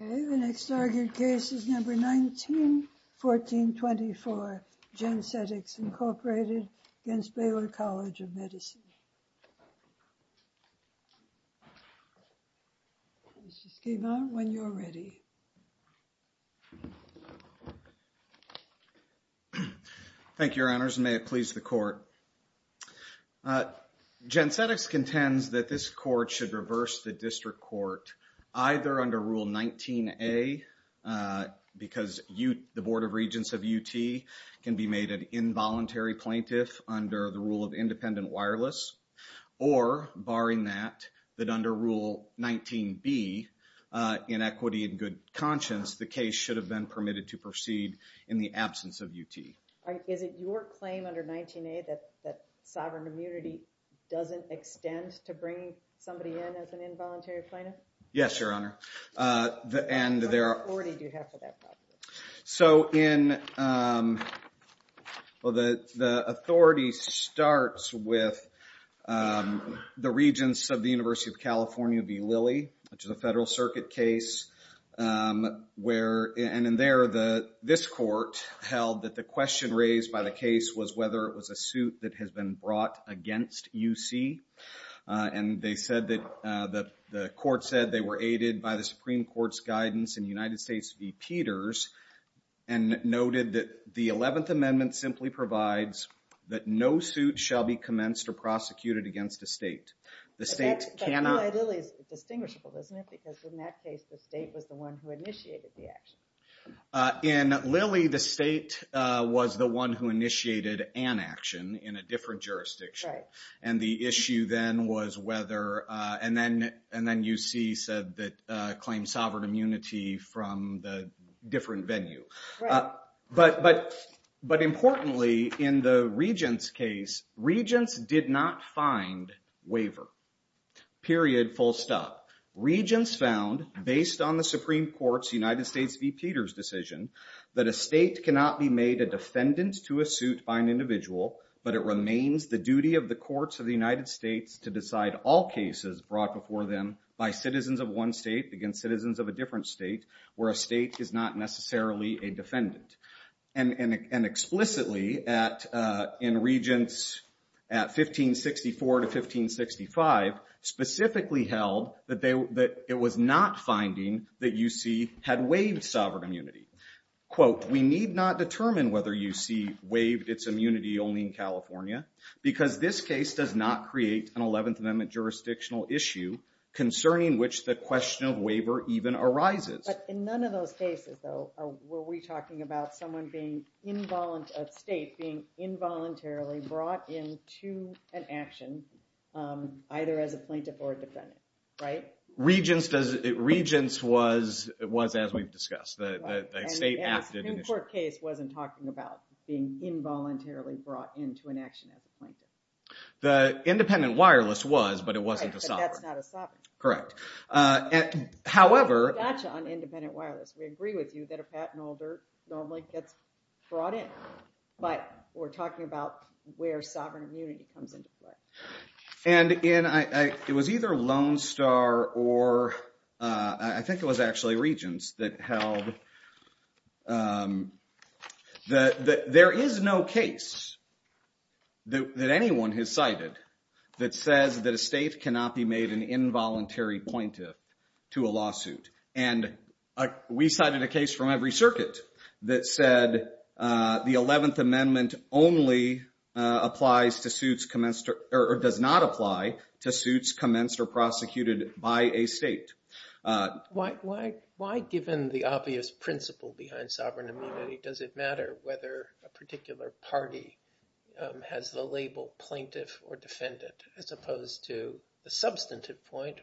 The next argued case is number 191424, Gensetix, Inc. v. Baylor College of Medicine. Gensetix contends that this court should reverse the district court either under Rule 19A because the Board of Regents of UT can be made an involuntary plaintiff under the or, barring that, that under Rule 19B, Inequity and Good Conscience, the case should have been permitted to proceed in the absence of UT. Is it your claim under 19A that sovereign immunity doesn't extend to bringing somebody in as an involuntary plaintiff? Yes, Your Honor. What authority do you have for that? So in, well, the authority starts with the Regents of the University of California v. Lilly, which is a Federal Circuit case, where, and in there, this court held that the question raised by the case was whether it was a suit that has been brought against UC. And they said that, the court said they were aided by the Supreme Court's guidance in United and noted that the 11th Amendment simply provides that no suit shall be commenced or prosecuted against a state. The state cannot... But that's, that rule at Lilly is distinguishable, isn't it? Because in that case, the state was the one who initiated the action. In Lilly, the state was the one who initiated an action in a different jurisdiction. Right. And the issue then was whether, and then, and then UC said that, claimed sovereign immunity from the different venue. Right. But, but, but importantly, in the Regents case, Regents did not find waiver, period, full stop. Regents found, based on the Supreme Court's United States v. Peters decision, that a state cannot be made a defendant to a suit by an individual, but it remains the duty of the courts of the United States to decide all cases brought before them by citizens of one state against citizens of a different state, where a state is not necessarily a defendant. And explicitly at, in Regents at 1564 to 1565, specifically held that it was not finding that UC had waived sovereign immunity. Quote, we need not determine whether UC waived its immunity only in California because this case does not create an 11th Amendment jurisdictional issue concerning which the question of waiver even arises. But in none of those cases, though, were we talking about someone being involunt, a state being involuntarily brought into an action, either as a plaintiff or a defendant, right? Regents does, Regents was, was as we've discussed, the, the, the state acted initially. The Supreme Court case wasn't talking about being involuntarily brought into an action as a plaintiff. The independent wireless was, but it wasn't a sovereign. Right, but that's not a sovereign. Correct. However. Gotcha on independent wireless. We agree with you that a patent holder normally gets brought in, but we're talking about where sovereign immunity comes into play. And in, I, I, it was either Lone Star or I, I think it was actually Regents that held that, that there is no case that, that anyone has cited that says that a state cannot be made an involuntary plaintiff to a lawsuit. And we cited a case from every circuit that said the 11th Amendment only applies to suits commenced, or does not apply to suits commenced or prosecuted by a state. Why, why, why given the obvious principle behind sovereign immunity, does it matter whether a particular party has the label plaintiff or defendant as opposed to the substantive point,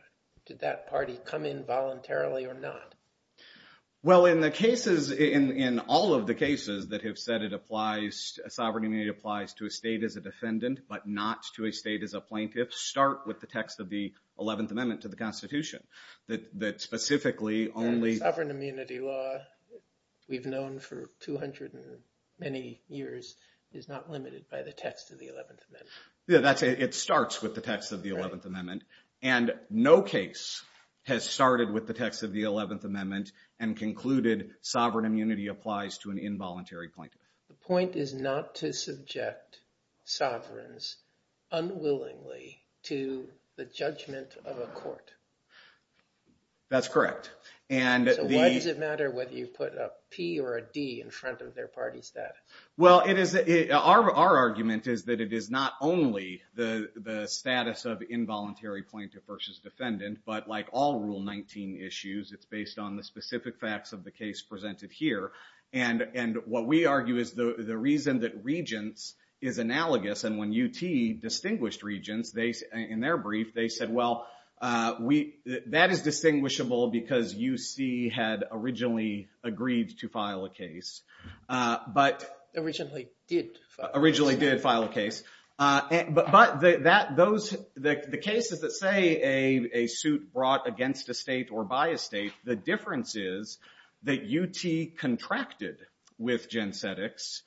did that party come in voluntarily or not? Well in the cases, in, in all of the cases that have said it applies, sovereign immunity applies to a state as a defendant, but not to a state as a plaintiff, start with the text of the 11th Amendment to the Constitution that, that specifically only. Sovereign immunity law we've known for 200 and many years is not limited by the text of the 11th Amendment. Yeah, that's, it starts with the text of the 11th Amendment. And no case has started with the text of the 11th Amendment and concluded sovereign immunity applies to an involuntary plaintiff. The point is not to subject sovereigns unwillingly to the judgment of a court. That's correct. And the- So why does it matter whether you put a P or a D in front of their party status? Well it is, our, our argument is that it is not only the, the status of involuntary plaintiff versus defendant, but like all Rule 19 issues, it's based on the specific facts of the case presented here. And, and what we argue is the, the reason that regents is analogous, and when UT distinguished regents they, in their brief, they said, well, we, that is distinguishable because UC had originally agreed to file a case. But- Originally did file a case. Originally did file a case. But that, those, the cases that say a, a suit brought against a state or by a state, the difference is that UT contracted with Gen Cetics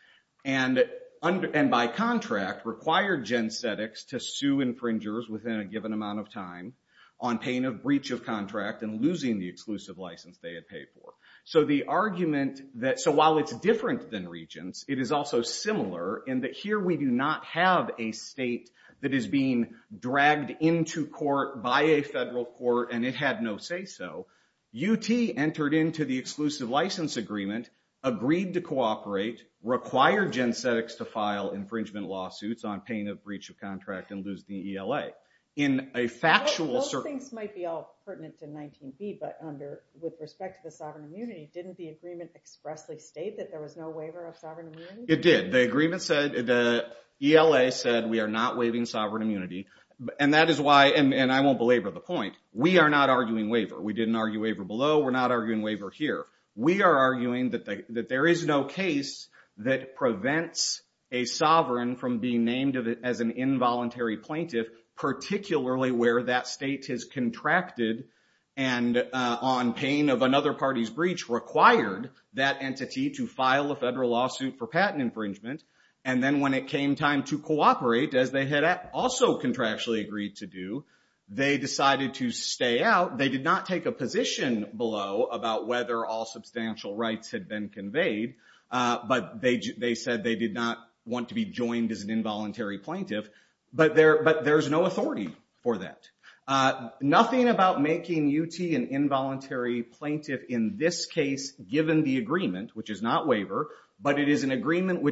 and under, and by contract required Gen Cetics to sue infringers within a given amount of time on pain of breach of contract and losing the exclusive license they had paid for. So the argument that, so while it's different than regents, it is also similar in that here we do not have a state that is being dragged into court by a federal court and it had no to say so. UT entered into the exclusive license agreement, agreed to cooperate, required Gen Cetics to file infringement lawsuits on pain of breach of contract and lose the ELA. In a factual- Those things might be all pertinent to 19B, but under, with respect to the sovereign immunity, didn't the agreement expressly state that there was no waiver of sovereign immunity? It did. The agreement said, the ELA said we are not waiving sovereign immunity. And that is why, and I won't belabor the point, we are not arguing waiver. We didn't argue waiver below, we're not arguing waiver here. We are arguing that there is no case that prevents a sovereign from being named as an involuntary plaintiff, particularly where that state has contracted and on pain of another party's breach required that entity to file a federal lawsuit for patent infringement. And then when it came time to cooperate, as they had also contractually agreed to do, they decided to stay out. They did not take a position below about whether all substantial rights had been conveyed, but they said they did not want to be joined as an involuntary plaintiff. But there's no authority for that. Nothing about making UT an involuntary plaintiff in this case, given the agreement, which is not waiver, but it is an agreement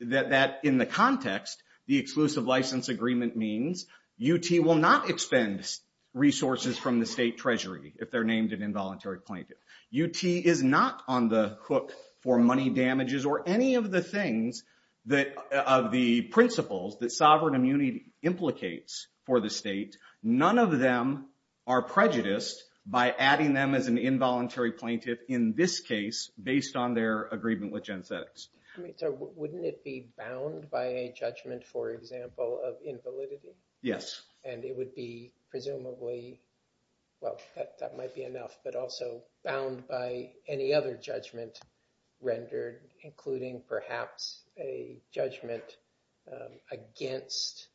that in the context, the exclusive license agreement means UT will not expend resources from the state treasury if they're named an involuntary plaintiff. UT is not on the hook for money damages or any of the things that, of the principles that sovereign immunity implicates for the state, none of them are prejudiced by adding them as an involuntary plaintiff in this case, based on their agreement with gen sex. I mean, so wouldn't it be bound by a judgment, for example, of invalidity? Yes. And it would be presumably, well, that might be enough, but also bound by any other judgment rendered, including perhaps a judgment against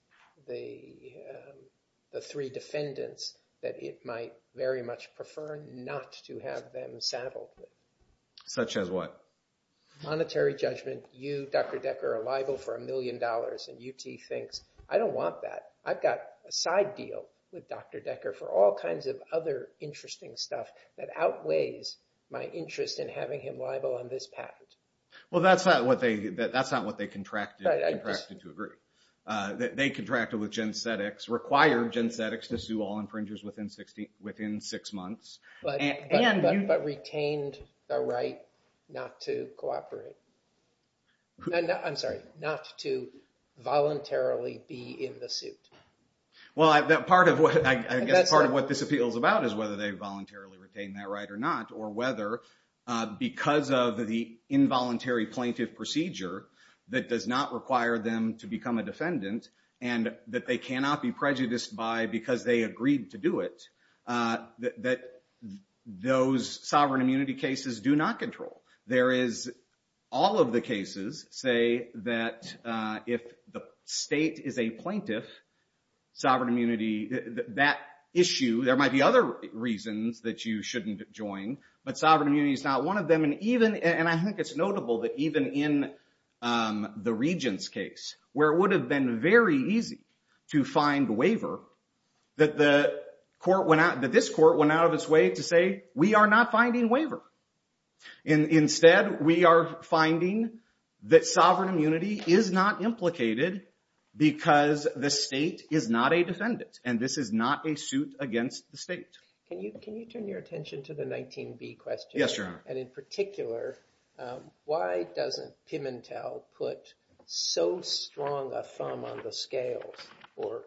the three defendants that it might very much prefer not to have them saddled with. Such as what? Monetary judgment. You, Dr. Decker, are liable for a million dollars, and UT thinks, I don't want that. I've got a side deal with Dr. Decker for all kinds of other interesting stuff that outweighs my interest in having him liable on this patent. Well, that's not what they contracted to agree. They contracted with Gen Cetics, required Gen Cetics to sue all infringers within six months. And you- But retained the right not to cooperate. I'm sorry, not to voluntarily be in the suit. Well, I guess part of what this appeal is about is whether they voluntarily retained that right or not, or whether, because of the involuntary plaintiff procedure that does not require them to become a defendant, and that they cannot be prejudiced by because they agreed to do it, that those sovereign immunity cases do not control. There is, all of the cases say that if the state is a plaintiff, sovereign immunity, that issue, there might be other reasons that you shouldn't join, but sovereign immunity is not one of them. And I think it's notable that even in the regent's case, where it would have been very easy to find waiver, that this court went out of its way to say, we are not finding waiver. And instead, we are finding that sovereign immunity is not implicated because the state is not a defendant, and this is not a suit against the state. Can you turn your attention to the 19B question? Yes, Your Honor. And in particular, why doesn't Pimentel put so strong a thumb on the scales, or,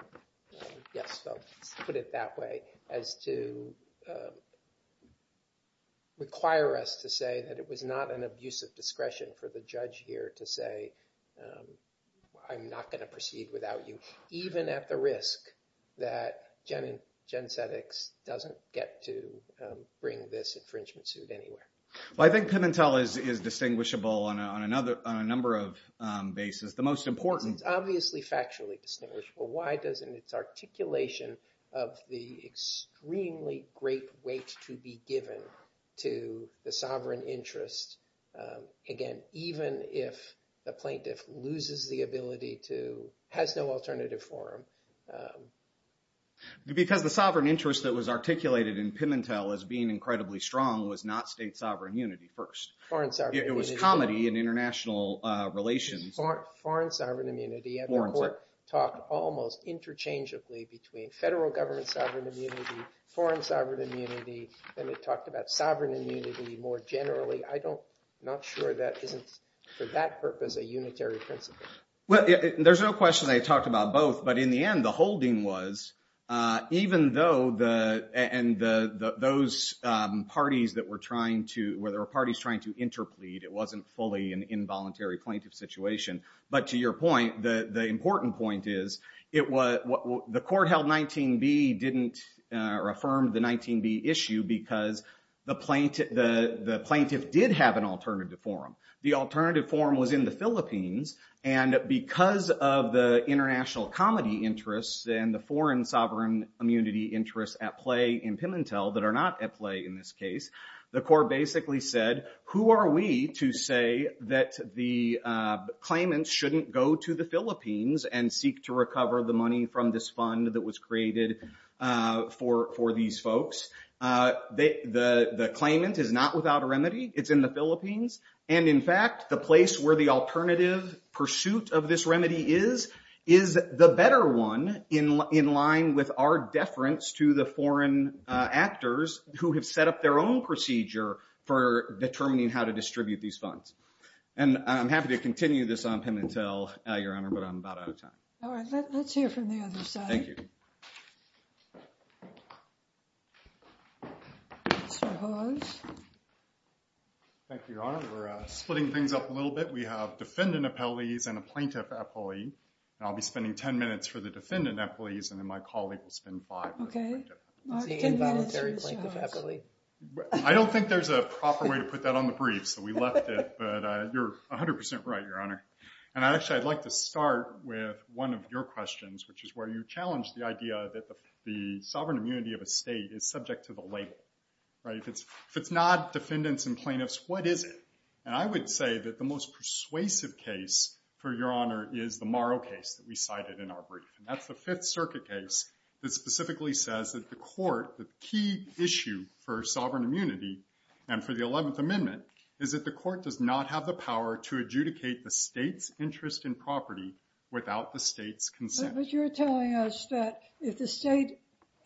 yes, I'll put it that way, as to require us to say that it was not an abuse of discretion for the judge here to say, I'm not going to proceed without you, even at the risk that the defendant, Jen Seddix, doesn't get to bring this infringement suit anywhere? Well, I think Pimentel is distinguishable on a number of bases. The most important— It's obviously factually distinguishable. Why doesn't its articulation of the extremely great weight to be given to the sovereign interest, again, even if the plaintiff loses the ability to—has no alternative for him? Because the sovereign interest that was articulated in Pimentel as being incredibly strong was not state sovereign immunity first. Foreign sovereign immunity. It was comity in international relations. Foreign sovereign immunity. Foreign sovereign immunity. And the court talked almost interchangeably between federal government sovereign immunity, foreign sovereign immunity, and it talked about sovereign immunity more generally. I'm not sure that isn't, for that purpose, a unitary principle. Well, there's no question they talked about both, but in the end, the holding was, even though the—and those parties that were trying to—where there were parties trying to interplead, it wasn't fully an involuntary plaintiff situation. But to your point, the important point is, it was—the court held 19B didn't—or affirmed the 19B issue because the plaintiff did have an alternative forum. The alternative forum was in the Philippines, and because of the international comity interests and the foreign sovereign immunity interests at play in Pimentel that are not at play in this case, the court basically said, who are we to say that the claimant shouldn't go to the Philippines and seek to recover the money from this fund that was created for these folks? The claimant is not without a remedy. It's in the Philippines, and in fact, the place where the alternative pursuit of this remedy is, is the better one in line with our deference to the foreign actors who have set up their own procedure for determining how to distribute these funds. And I'm happy to continue this on Pimentel, Your Honor, but I'm about out of time. All right. Let's hear from the other side. Thank you. Mr. Hawes. Thank you, Your Honor. We're splitting things up a little bit. We have defendant appellees and a plaintiff appellee, and I'll be spending 10 minutes for the defendant appellees, and then my colleague will spend five minutes for the plaintiff. Okay. The involuntary plaintiff appellee. I don't think there's a proper way to put that on the brief, so we left it, but you're 100% right, Your Honor. And actually, I'd like to start with one of your questions, which is where you challenged the idea that the sovereign immunity of a state is subject to the label, right? If it's not defendants and plaintiffs, what is it? And I would say that the most persuasive case, for Your Honor, is the Morrow case that we cited in our brief. And that's the Fifth Circuit case that specifically says that the court, the key issue for sovereign immunity and for the 11th Amendment, is that the court does not have the power to adjudicate the state's interest in property without the state's consent. But you're telling us that if the state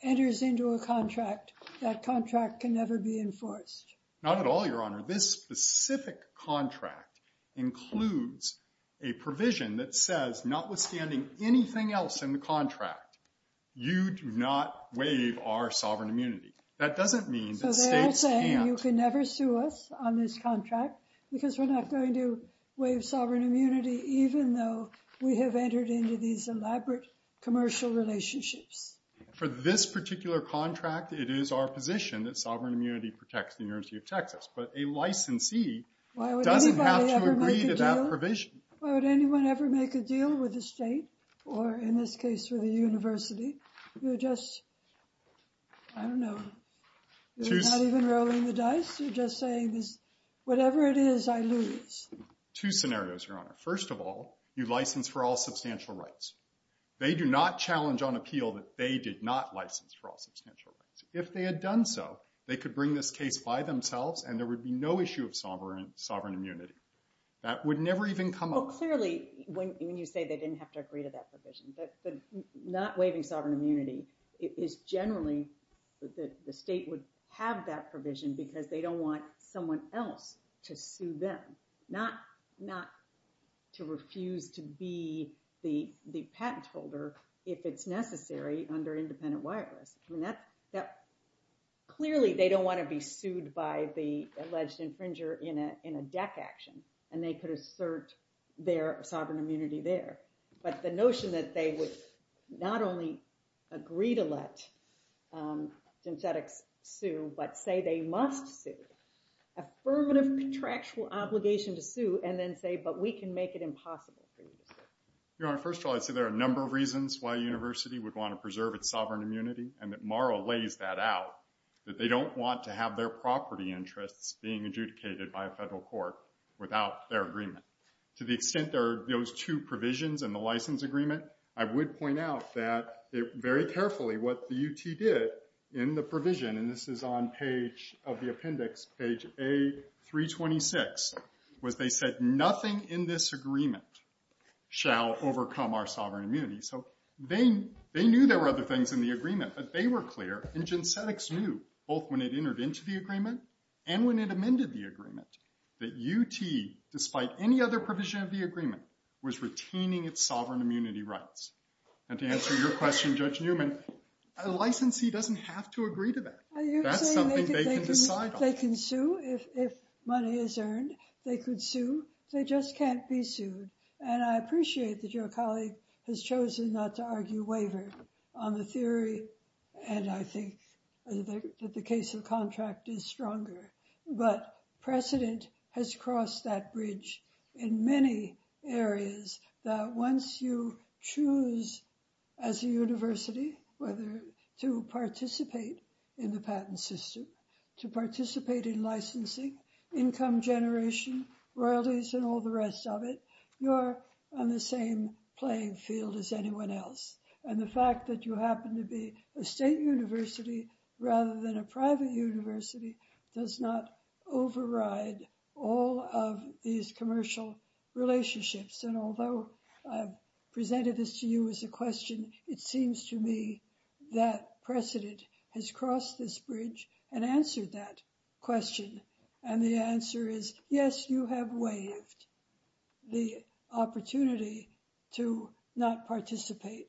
enters into a contract, that contract can never be enforced? Not at all, Your Honor. This specific contract includes a provision that says, notwithstanding anything else in the contract, you do not waive our sovereign immunity. That doesn't mean that states can't- So they're all saying you can never sue us on this contract because we're not going to waive sovereign immunity, even though we have entered into these elaborate commercial relationships. For this particular contract, it is our position that sovereign immunity protects the University of Texas. But a licensee doesn't have to agree to that provision. Why would anybody ever make a deal? Why would anyone ever make a deal with the state or, in this case, with a university? You're just, I don't know, you're not even rolling the dice. You're just saying, whatever it is, I lose. Two scenarios, Your Honor. First of all, you license for all substantial rights. They do not challenge on appeal that they did not license for all substantial rights. If they had done so, they could bring this case by themselves and there would be no issue of sovereign immunity. That would never even come up. Well, clearly, when you say they didn't have to agree to that provision, but not waiving sovereign immunity is generally that the state would have that provision because they don't want someone else to sue them. Not to refuse to be the patent holder if it's necessary under independent wireless. I mean, clearly, they don't want to be sued by the alleged infringer in a deck action and they could assert their sovereign immunity there. But the notion that they would not only agree to let synthetics sue, but say they must sue. Affirmative contractual obligation to sue and then say, but we can make it impossible for you to sue. Your Honor, first of all, I'd say there are a number of reasons why a university would want to preserve its sovereign immunity and that Morrow lays that out, that they don't want to have their property interests being adjudicated by a federal court without their agreement. To the extent there are those two provisions in the license agreement, I would point out that, very carefully, what the UT did in the provision, and this is on page of the appendix, page A326, was they said, nothing in this agreement shall overcome our sovereign immunity. So they knew there were other things in the agreement, but they were clear. And ginsenics knew, both when it entered into the agreement and when it amended the agreement, that UT, despite any other provision of the agreement, was retaining its sovereign immunity rights. And to answer your question, Judge Newman, a licensee doesn't have to agree to that. That's something they can decide on. They can sue if money is earned. They could sue. They just can't be sued. And I appreciate that your colleague has chosen not to argue waiver on the theory, and I think that the case of the contract is stronger. But precedent has crossed that bridge in many areas that once you choose, as a university, whether to participate in the patent system, to participate in licensing, income generation, royalties, and all the rest of it, you're on the same playing field as anyone else. And the fact that you happen to be a state university rather than a private university does not override all of these commercial relationships. And although I've presented this to you as a question, it seems to me that precedent has crossed this bridge and answered that question. And the answer is, yes, you have waived the opportunity to not participate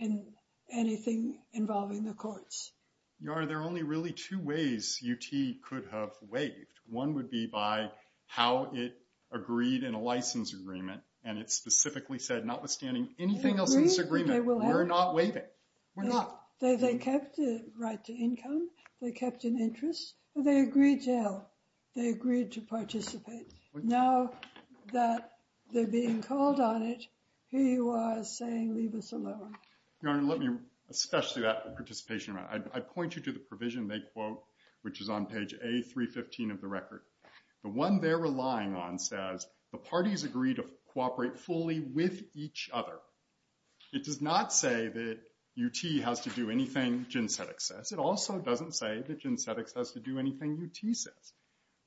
in anything involving the courts. Your Honor, there are only really two ways UT could have waived. One would be by how it agreed in a license agreement, and it specifically said, notwithstanding anything else in this agreement, we're not waiving. We're not. They kept the right to income. They kept an interest. They agreed to participate. Now that they're being called on it, he was saying, leave us alone. Your Honor, especially that participation, I'd point you to the provision they quote, which is on page A315 of the record. The one they're relying on says, the parties agree to cooperate fully with each other. It does not say that UT has to do anything Ginsetic says. It also doesn't say that Ginsetic has to do anything UT says.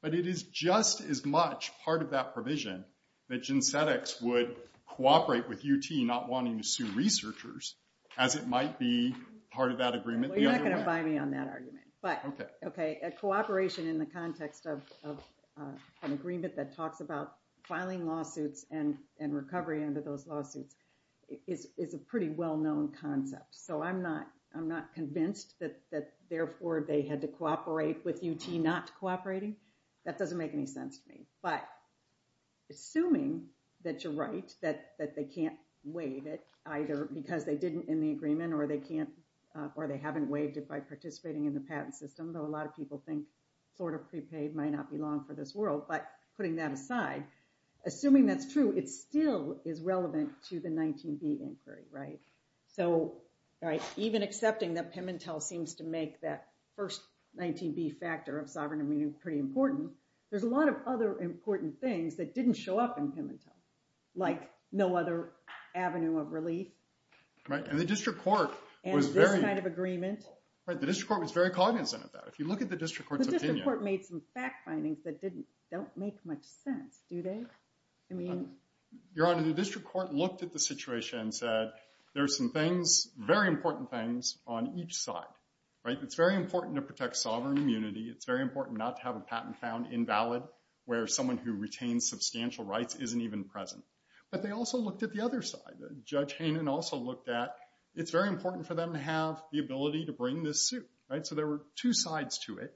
But it is just as much part of that provision that Ginsetic would cooperate with UT not wanting to sue researchers as it might be part of that agreement. Well, you're not going to buy me on that argument. But, OK, a cooperation in the context of an agreement that talks about filing lawsuits and recovery under those lawsuits is a pretty well-known concept. So I'm not convinced that, therefore, they had to cooperate with UT not cooperating. That doesn't make any sense to me. But assuming that you're right, that they can't waive it either because they didn't in the agreement or they haven't waived it by participating in the patent system, though a lot of people think sort of prepaid might not be long for this world. But putting that aside, assuming that's true, it still is relevant to the 19B inquiry, right? So, right, even accepting that Pimentel seems to make that first 19B factor of sovereign immunity pretty important, there's a lot of other important things that didn't show up in Pimentel, like no other avenue of relief. Right. And the district court was very— And this kind of agreement. Right. The district court was very cognizant of that. If you look at the district court's opinion— The district court made some fact findings that don't make much sense, do they? I mean— Your Honor, the district court looked at the situation and said, there are some things, very important things, on each side. Right? It's very important to protect sovereign immunity. It's very important not to have a patent found invalid where someone who retains substantial rights isn't even present. But they also looked at the other side. Judge Hanen also looked at, it's very important for them to have the ability to bring this suit, right? So there were two sides to it.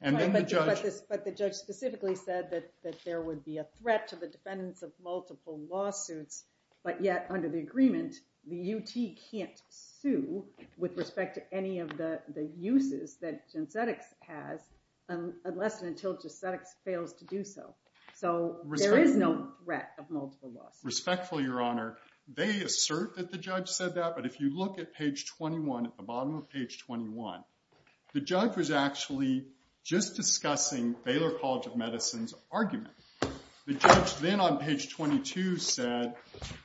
And then the judge— But the judge specifically said that there would be a threat to the defendants of multiple lawsuits. But yet, under the agreement, the UT can't sue with respect to any of the uses that Gensetics has unless and until Gensetics fails to do so. So there is no threat of multiple lawsuits. Respectfully, Your Honor, they assert that the judge said that. But if you look at page 21, at the bottom of page 21, the judge was actually just discussing Baylor College of Medicine's argument. The judge then on page 22 said,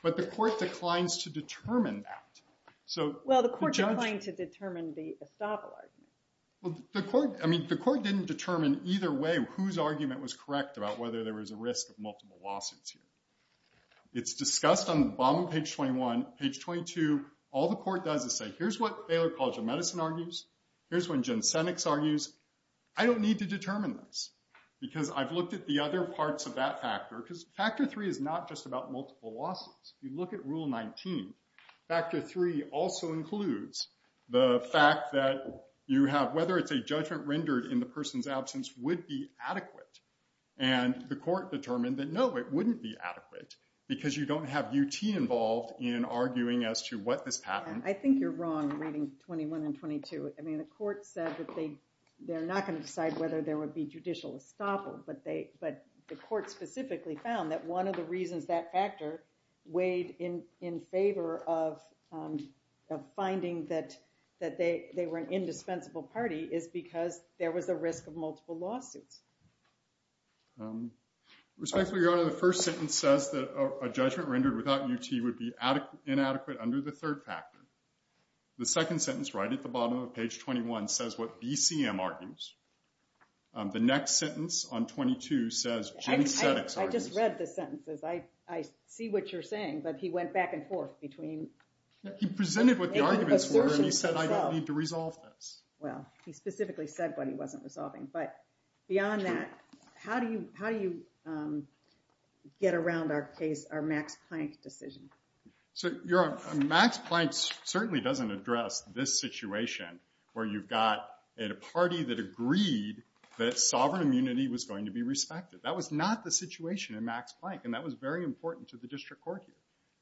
but the court declines to determine that. So the judge— Well, the court declined to determine the estoppel argument. Well, the court—I mean, the court didn't determine either way whose argument was correct about whether there was a risk of multiple lawsuits here. It's discussed on the bottom of page 21. Page 22, all the court does is say, here's what Baylor College of Medicine argues. Here's when Gensetics argues. I don't need to determine this. Because I've looked at the other parts of that factor. Because Factor 3 is not just about multiple lawsuits. You look at Rule 19. Factor 3 also includes the fact that you have—whether it's a judgment rendered in the person's absence would be adequate. And the court determined that, no, it wouldn't be adequate because you don't have UT involved in arguing as to what this pattern— I think you're wrong, reading 21 and 22. I mean, the court said that they're not going to decide whether there would be judicial estoppel. But the court specifically found that one of the reasons that factor weighed in favor of finding that they were an indispensable party is because there was a risk of multiple lawsuits. Respectfully, Your Honor, the first sentence says that a judgment rendered without UT would be inadequate under the third factor. The second sentence, right at the bottom of page 21, says what BCM argues. The next sentence on 22 says Gensetics argues— I just read the sentences. I see what you're saying. But he went back and forth between— He presented what the arguments were, and he said, I don't need to resolve this. Well, he specifically said what he wasn't resolving. But beyond that, how do you get around our case, our Max Planck decision? Your Honor, Max Planck certainly doesn't address this situation where you've got a party that agreed that sovereign immunity was going to be respected. That was not the situation in Max Planck, and that was very important to the district court here.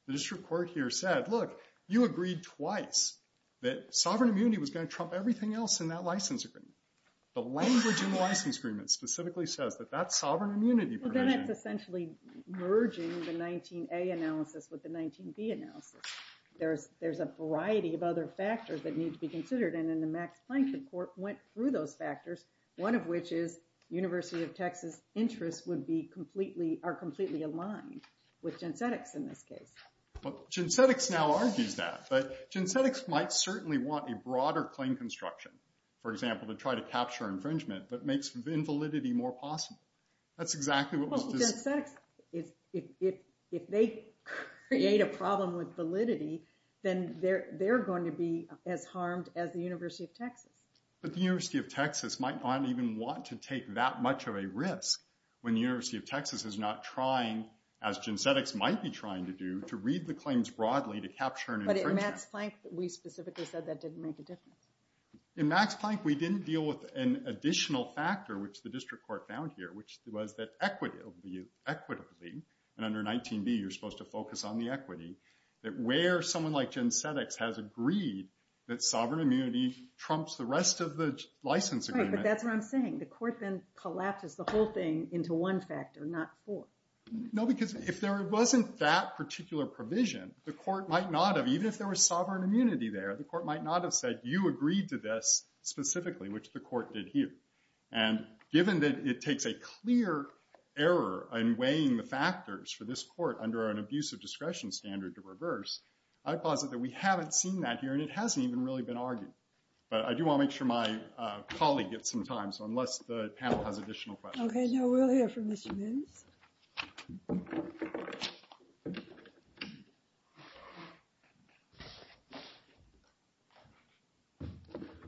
The district court here said, look, you agreed twice that sovereign immunity was going to trump everything else in that license agreement. The language in the license agreement specifically says that that's sovereign immunity provision. That's essentially merging the 19A analysis with the 19B analysis. There's a variety of other factors that need to be considered, and in the Max Planck report, went through those factors, one of which is University of Texas interests are completely aligned with Gensetics in this case. But Gensetics now argues that. Gensetics might certainly want a broader claim construction, for example, to try to capture infringement, but makes invalidity more possible. That's exactly what was discussed. Well, Gensetics, if they create a problem with validity, then they're going to be as harmed as the University of Texas. But the University of Texas might not even want to take that much of a risk when the University of Texas is not trying, as Gensetics might be trying to do, to read the claims broadly to capture an infringement. But in Max Planck, we specifically said that didn't make a difference. In Max Planck, we didn't deal with an additional factor, which the district court found here, which was that equitably, and under 19B, you're supposed to focus on the equity, that where someone like Gensetics has agreed that sovereign immunity trumps the rest of the license agreement. Right, but that's what I'm saying. The court then collapses the whole thing into one factor, not four. No, because if there wasn't that particular provision, the court might not have, even if there was sovereign immunity there, the court might not have said, you agreed to this specifically, which the court did here. And given that it takes a clear error in weighing the factors for this court under an abusive discretion standard to reverse, I posit that we haven't seen that here, and it hasn't even really been argued. But I do want to make sure my colleague gets some time, so unless the panel has additional questions. Okay, now we'll hear from Mr. Moos.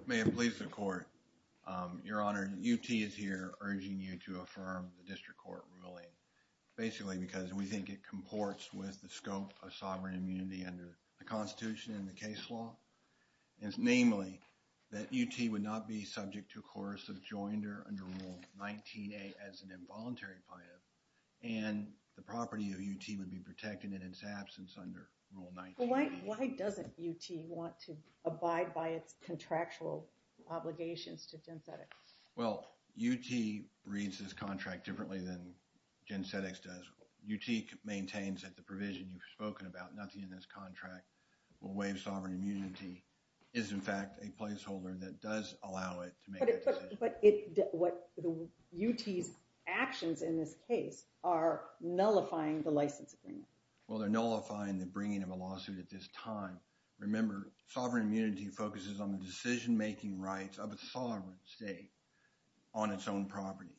May it please the court. Your Honor, UT is here urging you to affirm the district court ruling, basically because we think it comports with the scope of sovereign immunity under the Constitution and the case law. Namely, that UT would not be subject to a course of joinder under Rule 19A as an involuntary plaintiff, and the property of UT would be protected in its absence under Rule 19A. Why doesn't UT want to abide by its contractual obligations to Gen Cedex? Well, UT reads this contract differently than Gen Cedex does. UT maintains that the provision you've spoken about, nothing in this contract will waive sovereign immunity, is in fact a placeholder that does allow it to make that decision. But UT's actions in this case are nullifying the license agreement. Well, they're nullifying the bringing of a lawsuit at this time. Remember, sovereign immunity focuses on the decision-making rights of a sovereign state on its own property,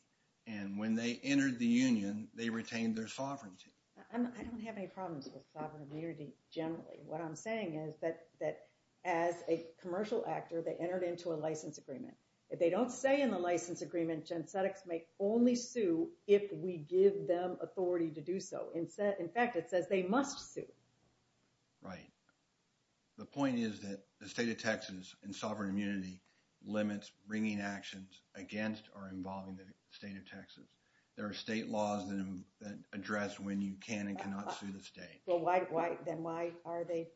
and when they entered the union, they retained their sovereignty. I don't have any problems with sovereign immunity generally. What I'm saying is that as a commercial actor, they entered into a license agreement. If they don't say in the license agreement, Gen Cedex may only sue if we give them authority to do so. In fact, it says they must sue. Right. The point is that the state of Texas in sovereign immunity limits bringing actions against or involving the state of Texas. There are state laws that address when you can and cannot sue the state. Then why are they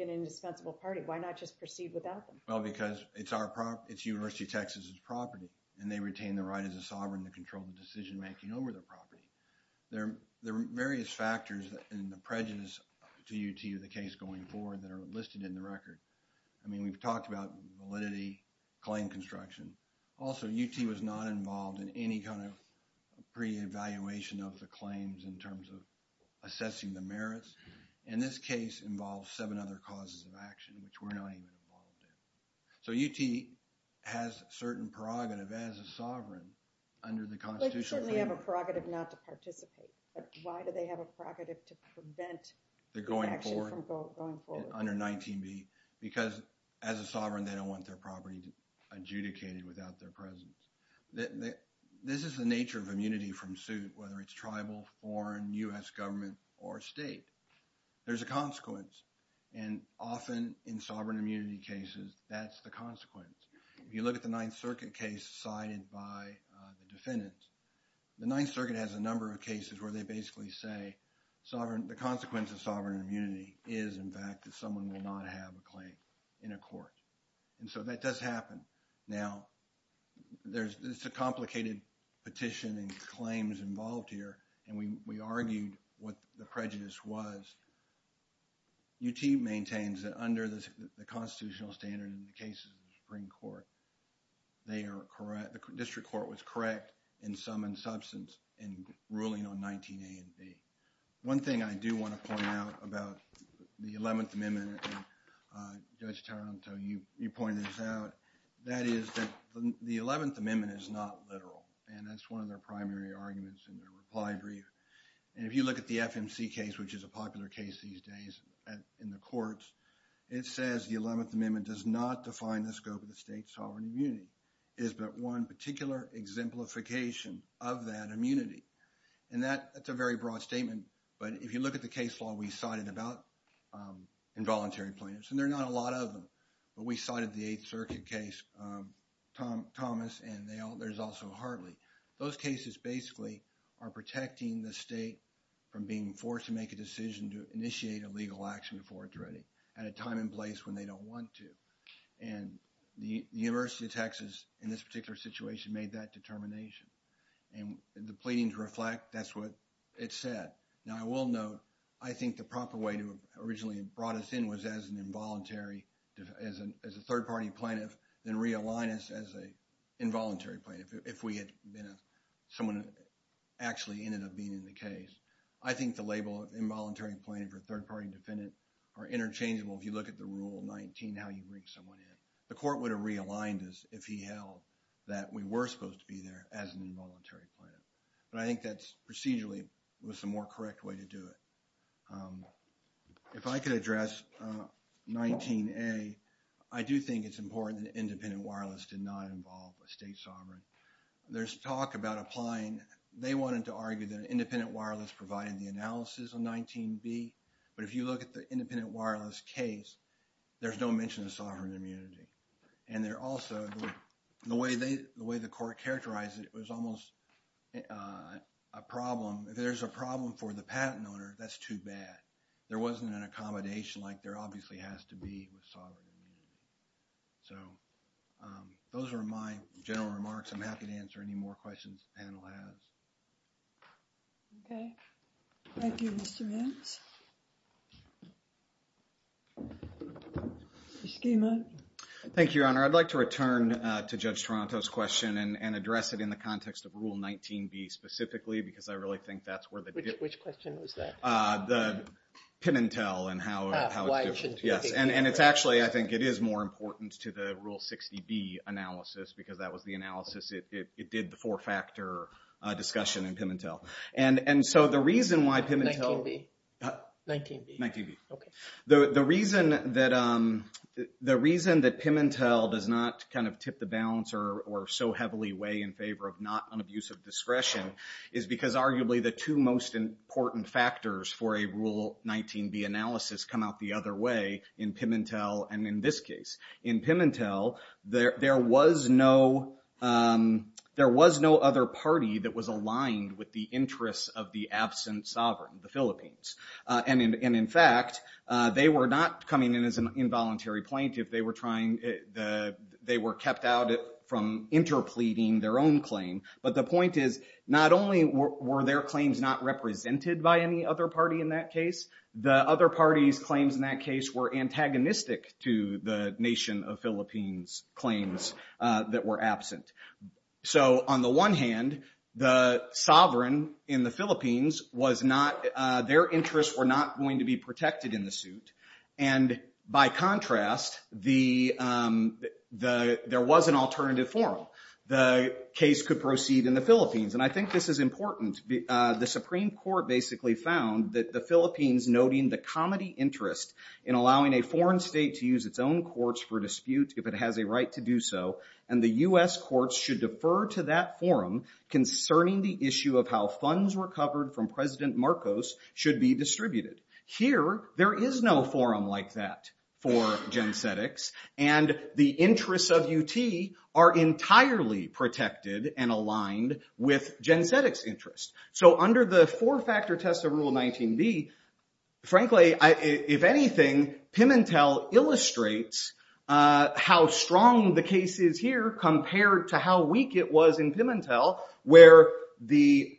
an indispensable party? Why not just proceed without them? Well, because it's University of Texas' property, and they retain the right as a sovereign to control the decision-making over their property. There are various factors in the prejudice to UT of the case going forward that are listed in the record. I mean, we've talked about validity, claim construction. Also, UT was not involved in any kind of pre-evaluation of the claims in terms of assessing the merits. And this case involves seven other causes of action, which we're not even involved in. So, UT has a certain prerogative as a sovereign under the Constitution. They certainly have a prerogative not to participate, but why do they have a prerogative to prevent the action from going forward? They're going forward, under 19b, because as a sovereign, they don't want their property adjudicated without their presence. This is the nature of immunity from suit, whether it's tribal, foreign, U.S. government, or state. There's a consequence, and often in sovereign immunity cases, that's the consequence. If you look at the Ninth Circuit case cited by the defendants, the Ninth Circuit has a number of cases where they basically say the consequence of sovereign immunity is, in fact, that someone will not have a claim in a court. And so that does happen. Now, there's a complicated petition and claims involved here, and we argued what the prejudice was. UT maintains that under the constitutional standard in the cases of the Supreme Court, they are correct, the district court was correct in sum and substance in ruling on 19a and b. One thing I do want to point out about the 11th Amendment, and Judge Taranto, you pointed this out, that is that the 11th Amendment is not literal. And that's one of their primary arguments in their reply brief. And if you look at the FMC case, which is a popular case these days in the courts, it says the 11th Amendment does not define the scope of the state's sovereign immunity. It is but one particular exemplification of that immunity. And that's a very broad statement. But if you look at the case law we cited about involuntary plaintiffs, and there are not a lot of them, but we cited the Eighth Circuit case, Thomas, and there's also Hartley. Those cases basically are protecting the state from being forced to make a decision to initiate a legal action before it's ready at a time and place when they don't want to. And the University of Texas in this particular situation made that determination. And the pleading to reflect, that's what it said. Now, I will note, I think the proper way to have originally brought us in was as an involuntary, as a third-party plaintiff, then realign us as an involuntary plaintiff, if we had been someone who actually ended up being in the case. I think the label of involuntary plaintiff or third-party defendant are interchangeable if you look at the Rule 19, how you bring someone in. The court would have realigned us if he held that we were supposed to be there as an involuntary plaintiff. But I think that's procedurally was the more correct way to do it. If I could address 19A, I do think it's important that independent wireless did not involve a state sovereign. There's talk about applying, they wanted to argue that independent wireless provided the analysis on 19B. But if you look at the independent wireless case, there's no mention of sovereign immunity. And there also, the way the court characterized it, it was almost a problem. If there's a problem for the patent owner, that's too bad. There wasn't an accommodation like there obviously has to be with sovereign immunity. So, those are my general remarks. I'm happy to answer any more questions the panel has. Okay. Thank you, Mr. Mintz. Mr. Schema. Thank you, Your Honor. I'd like to return to Judge Toronto's question and address it in the context of Rule 19B specifically because I really think that's where they did. Which question was that? The Pimentel and how it's different. Ah, why it should be. Yes. And it's actually, I think it is more important to the Rule 60B analysis because that was the analysis, it did the four-factor discussion in Pimentel. And so, the reason why Pimentel. 19B. 19B. 19B. Okay. The reason that Pimentel does not kind of tip the balance or so heavily weigh in favor of not unabusive discretion is because arguably the two most important factors for a Rule 19B analysis come out the other way in Pimentel and in this case. In Pimentel, there was no other party that was aligned with the interests of the absent sovereign, the Philippines. And in fact, they were not coming in as an involuntary plaintiff. They were kept out from interpleading their own claim. But the point is, not only were their claims not represented by any other party in that case, the other party's claims in that case were antagonistic to the nation of Philippines claims that were absent. So, on the one hand, the sovereign in the Philippines was not, their interests were not going to be protected in the suit. And by contrast, there was an alternative forum. The case could proceed in the Philippines. And I think this is important. The Supreme Court basically found that the Philippines noting the comedy interest in allowing a foreign state to use its own courts for dispute if it has a right to do so, and the U.S. courts should defer to that forum concerning the issue of how funds recovered from President Marcos should be distributed. Here, there is no forum like that for Gen Cetics. And the interests of UT are entirely protected and aligned with Gen Cetics' interests. So, under the four-factor test of Rule 19b, frankly, if anything, Pimentel illustrates how strong the case is here compared to how weak it was in Pimentel where the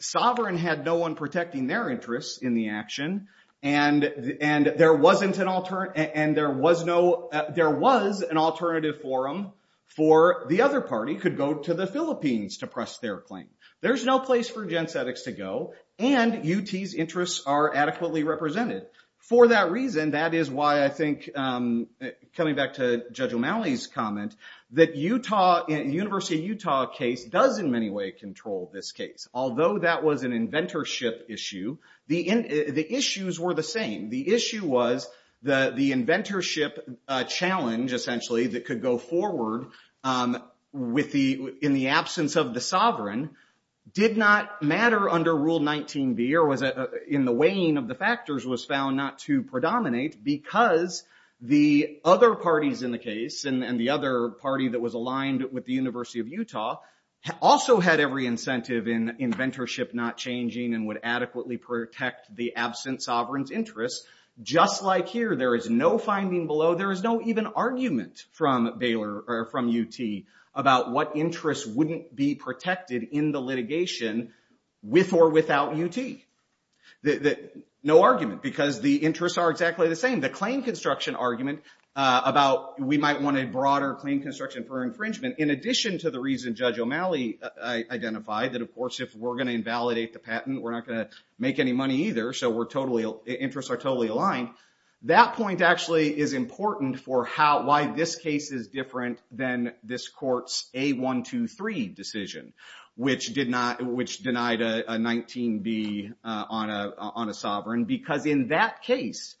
sovereign had no one protecting their interests in the action, and there was an alternative forum for the other party could go to the Philippines to press their claim. There's no place for Gen Cetics to go, and UT's interests are adequately represented. For that reason, that is why I think, coming back to Judge O'Malley's comment, that the University of Utah case does in many ways control this case. Although that was an inventorship issue, the issues were the same. The issue was the inventorship challenge, essentially, that could go forward in the absence of the sovereign did not matter under Rule 19b or was in the weighing of the factors was found not to predominate because the other parties in the case and the other party that was aligned with the University of Utah also had every incentive in inventorship not changing and would adequately protect the absent sovereign's interests. Just like here, there is no finding below. There is no even argument from Baylor or from UT about what interests wouldn't be protected in the litigation with or without UT. No argument because the interests are exactly the same. The claim construction argument about we might want a broader claim construction for infringement, in addition to the reason Judge O'Malley identified that, of course, if we're going to invalidate the patent, we're not going to make any money either, so interests are totally aligned. That point actually is important for why this case is different than this court's A123 decision, which denied a 19b on a sovereign because in that case,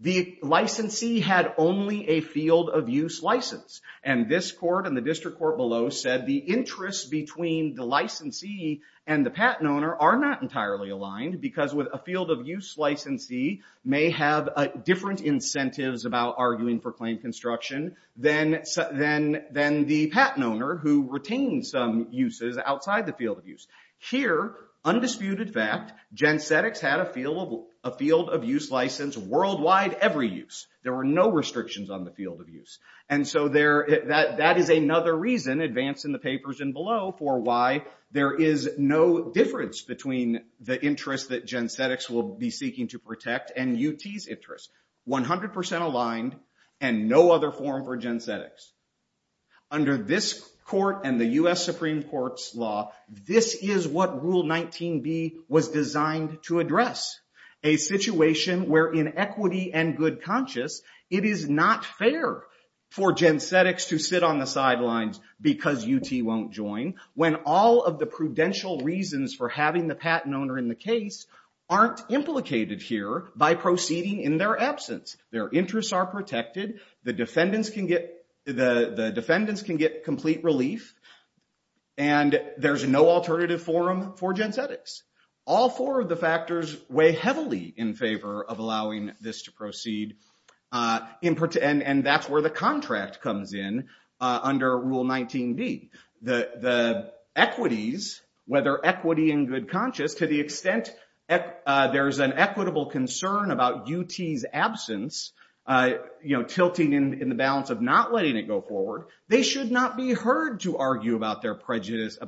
the licensee had only a field of use license, and this court and the district court below said the interests between the licensee and the patent owner are not entirely aligned because with a field of use licensee may have different incentives about arguing for claim construction than the patent owner who retains some uses outside the field of use. Here, undisputed fact, Gen Cetics had a field of use license worldwide every use. There were no restrictions on the field of use. So that is another reason, advanced in the papers and below, for why there is no difference between the interest that Gen Cetics will be seeking to protect and UT's interest, 100% aligned and no other form for Gen Cetics. Under this court and the US Supreme Court's law, this is what Rule 19b was designed to address, a situation where in equity and good conscience, it is not fair for Gen Cetics to sit on the case aren't implicated here by proceeding in their absence. Their interests are protected. The defendants can get complete relief, and there's no alternative forum for Gen Cetics. All four of the factors weigh heavily in favor of allowing this to proceed, and that's where the contract comes in under Rule 19b. The equities, whether equity and good conscience, to the extent there's an equitable concern about UT's absence tilting in the balance of not letting it go forward, they should not be heard to argue about prejudice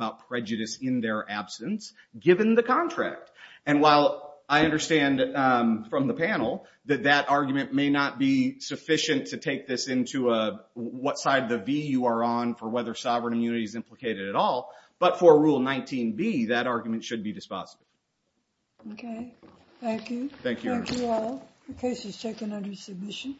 in their absence, given the contract. And while I understand from the panel that that argument may not be sufficient to take this into what side the V you are on for whether sovereign immunity is implicated at all, but for Rule 19b, that argument should be dispossessed. Okay, thank you. Thank you. Thank you all. The case is taken under submission.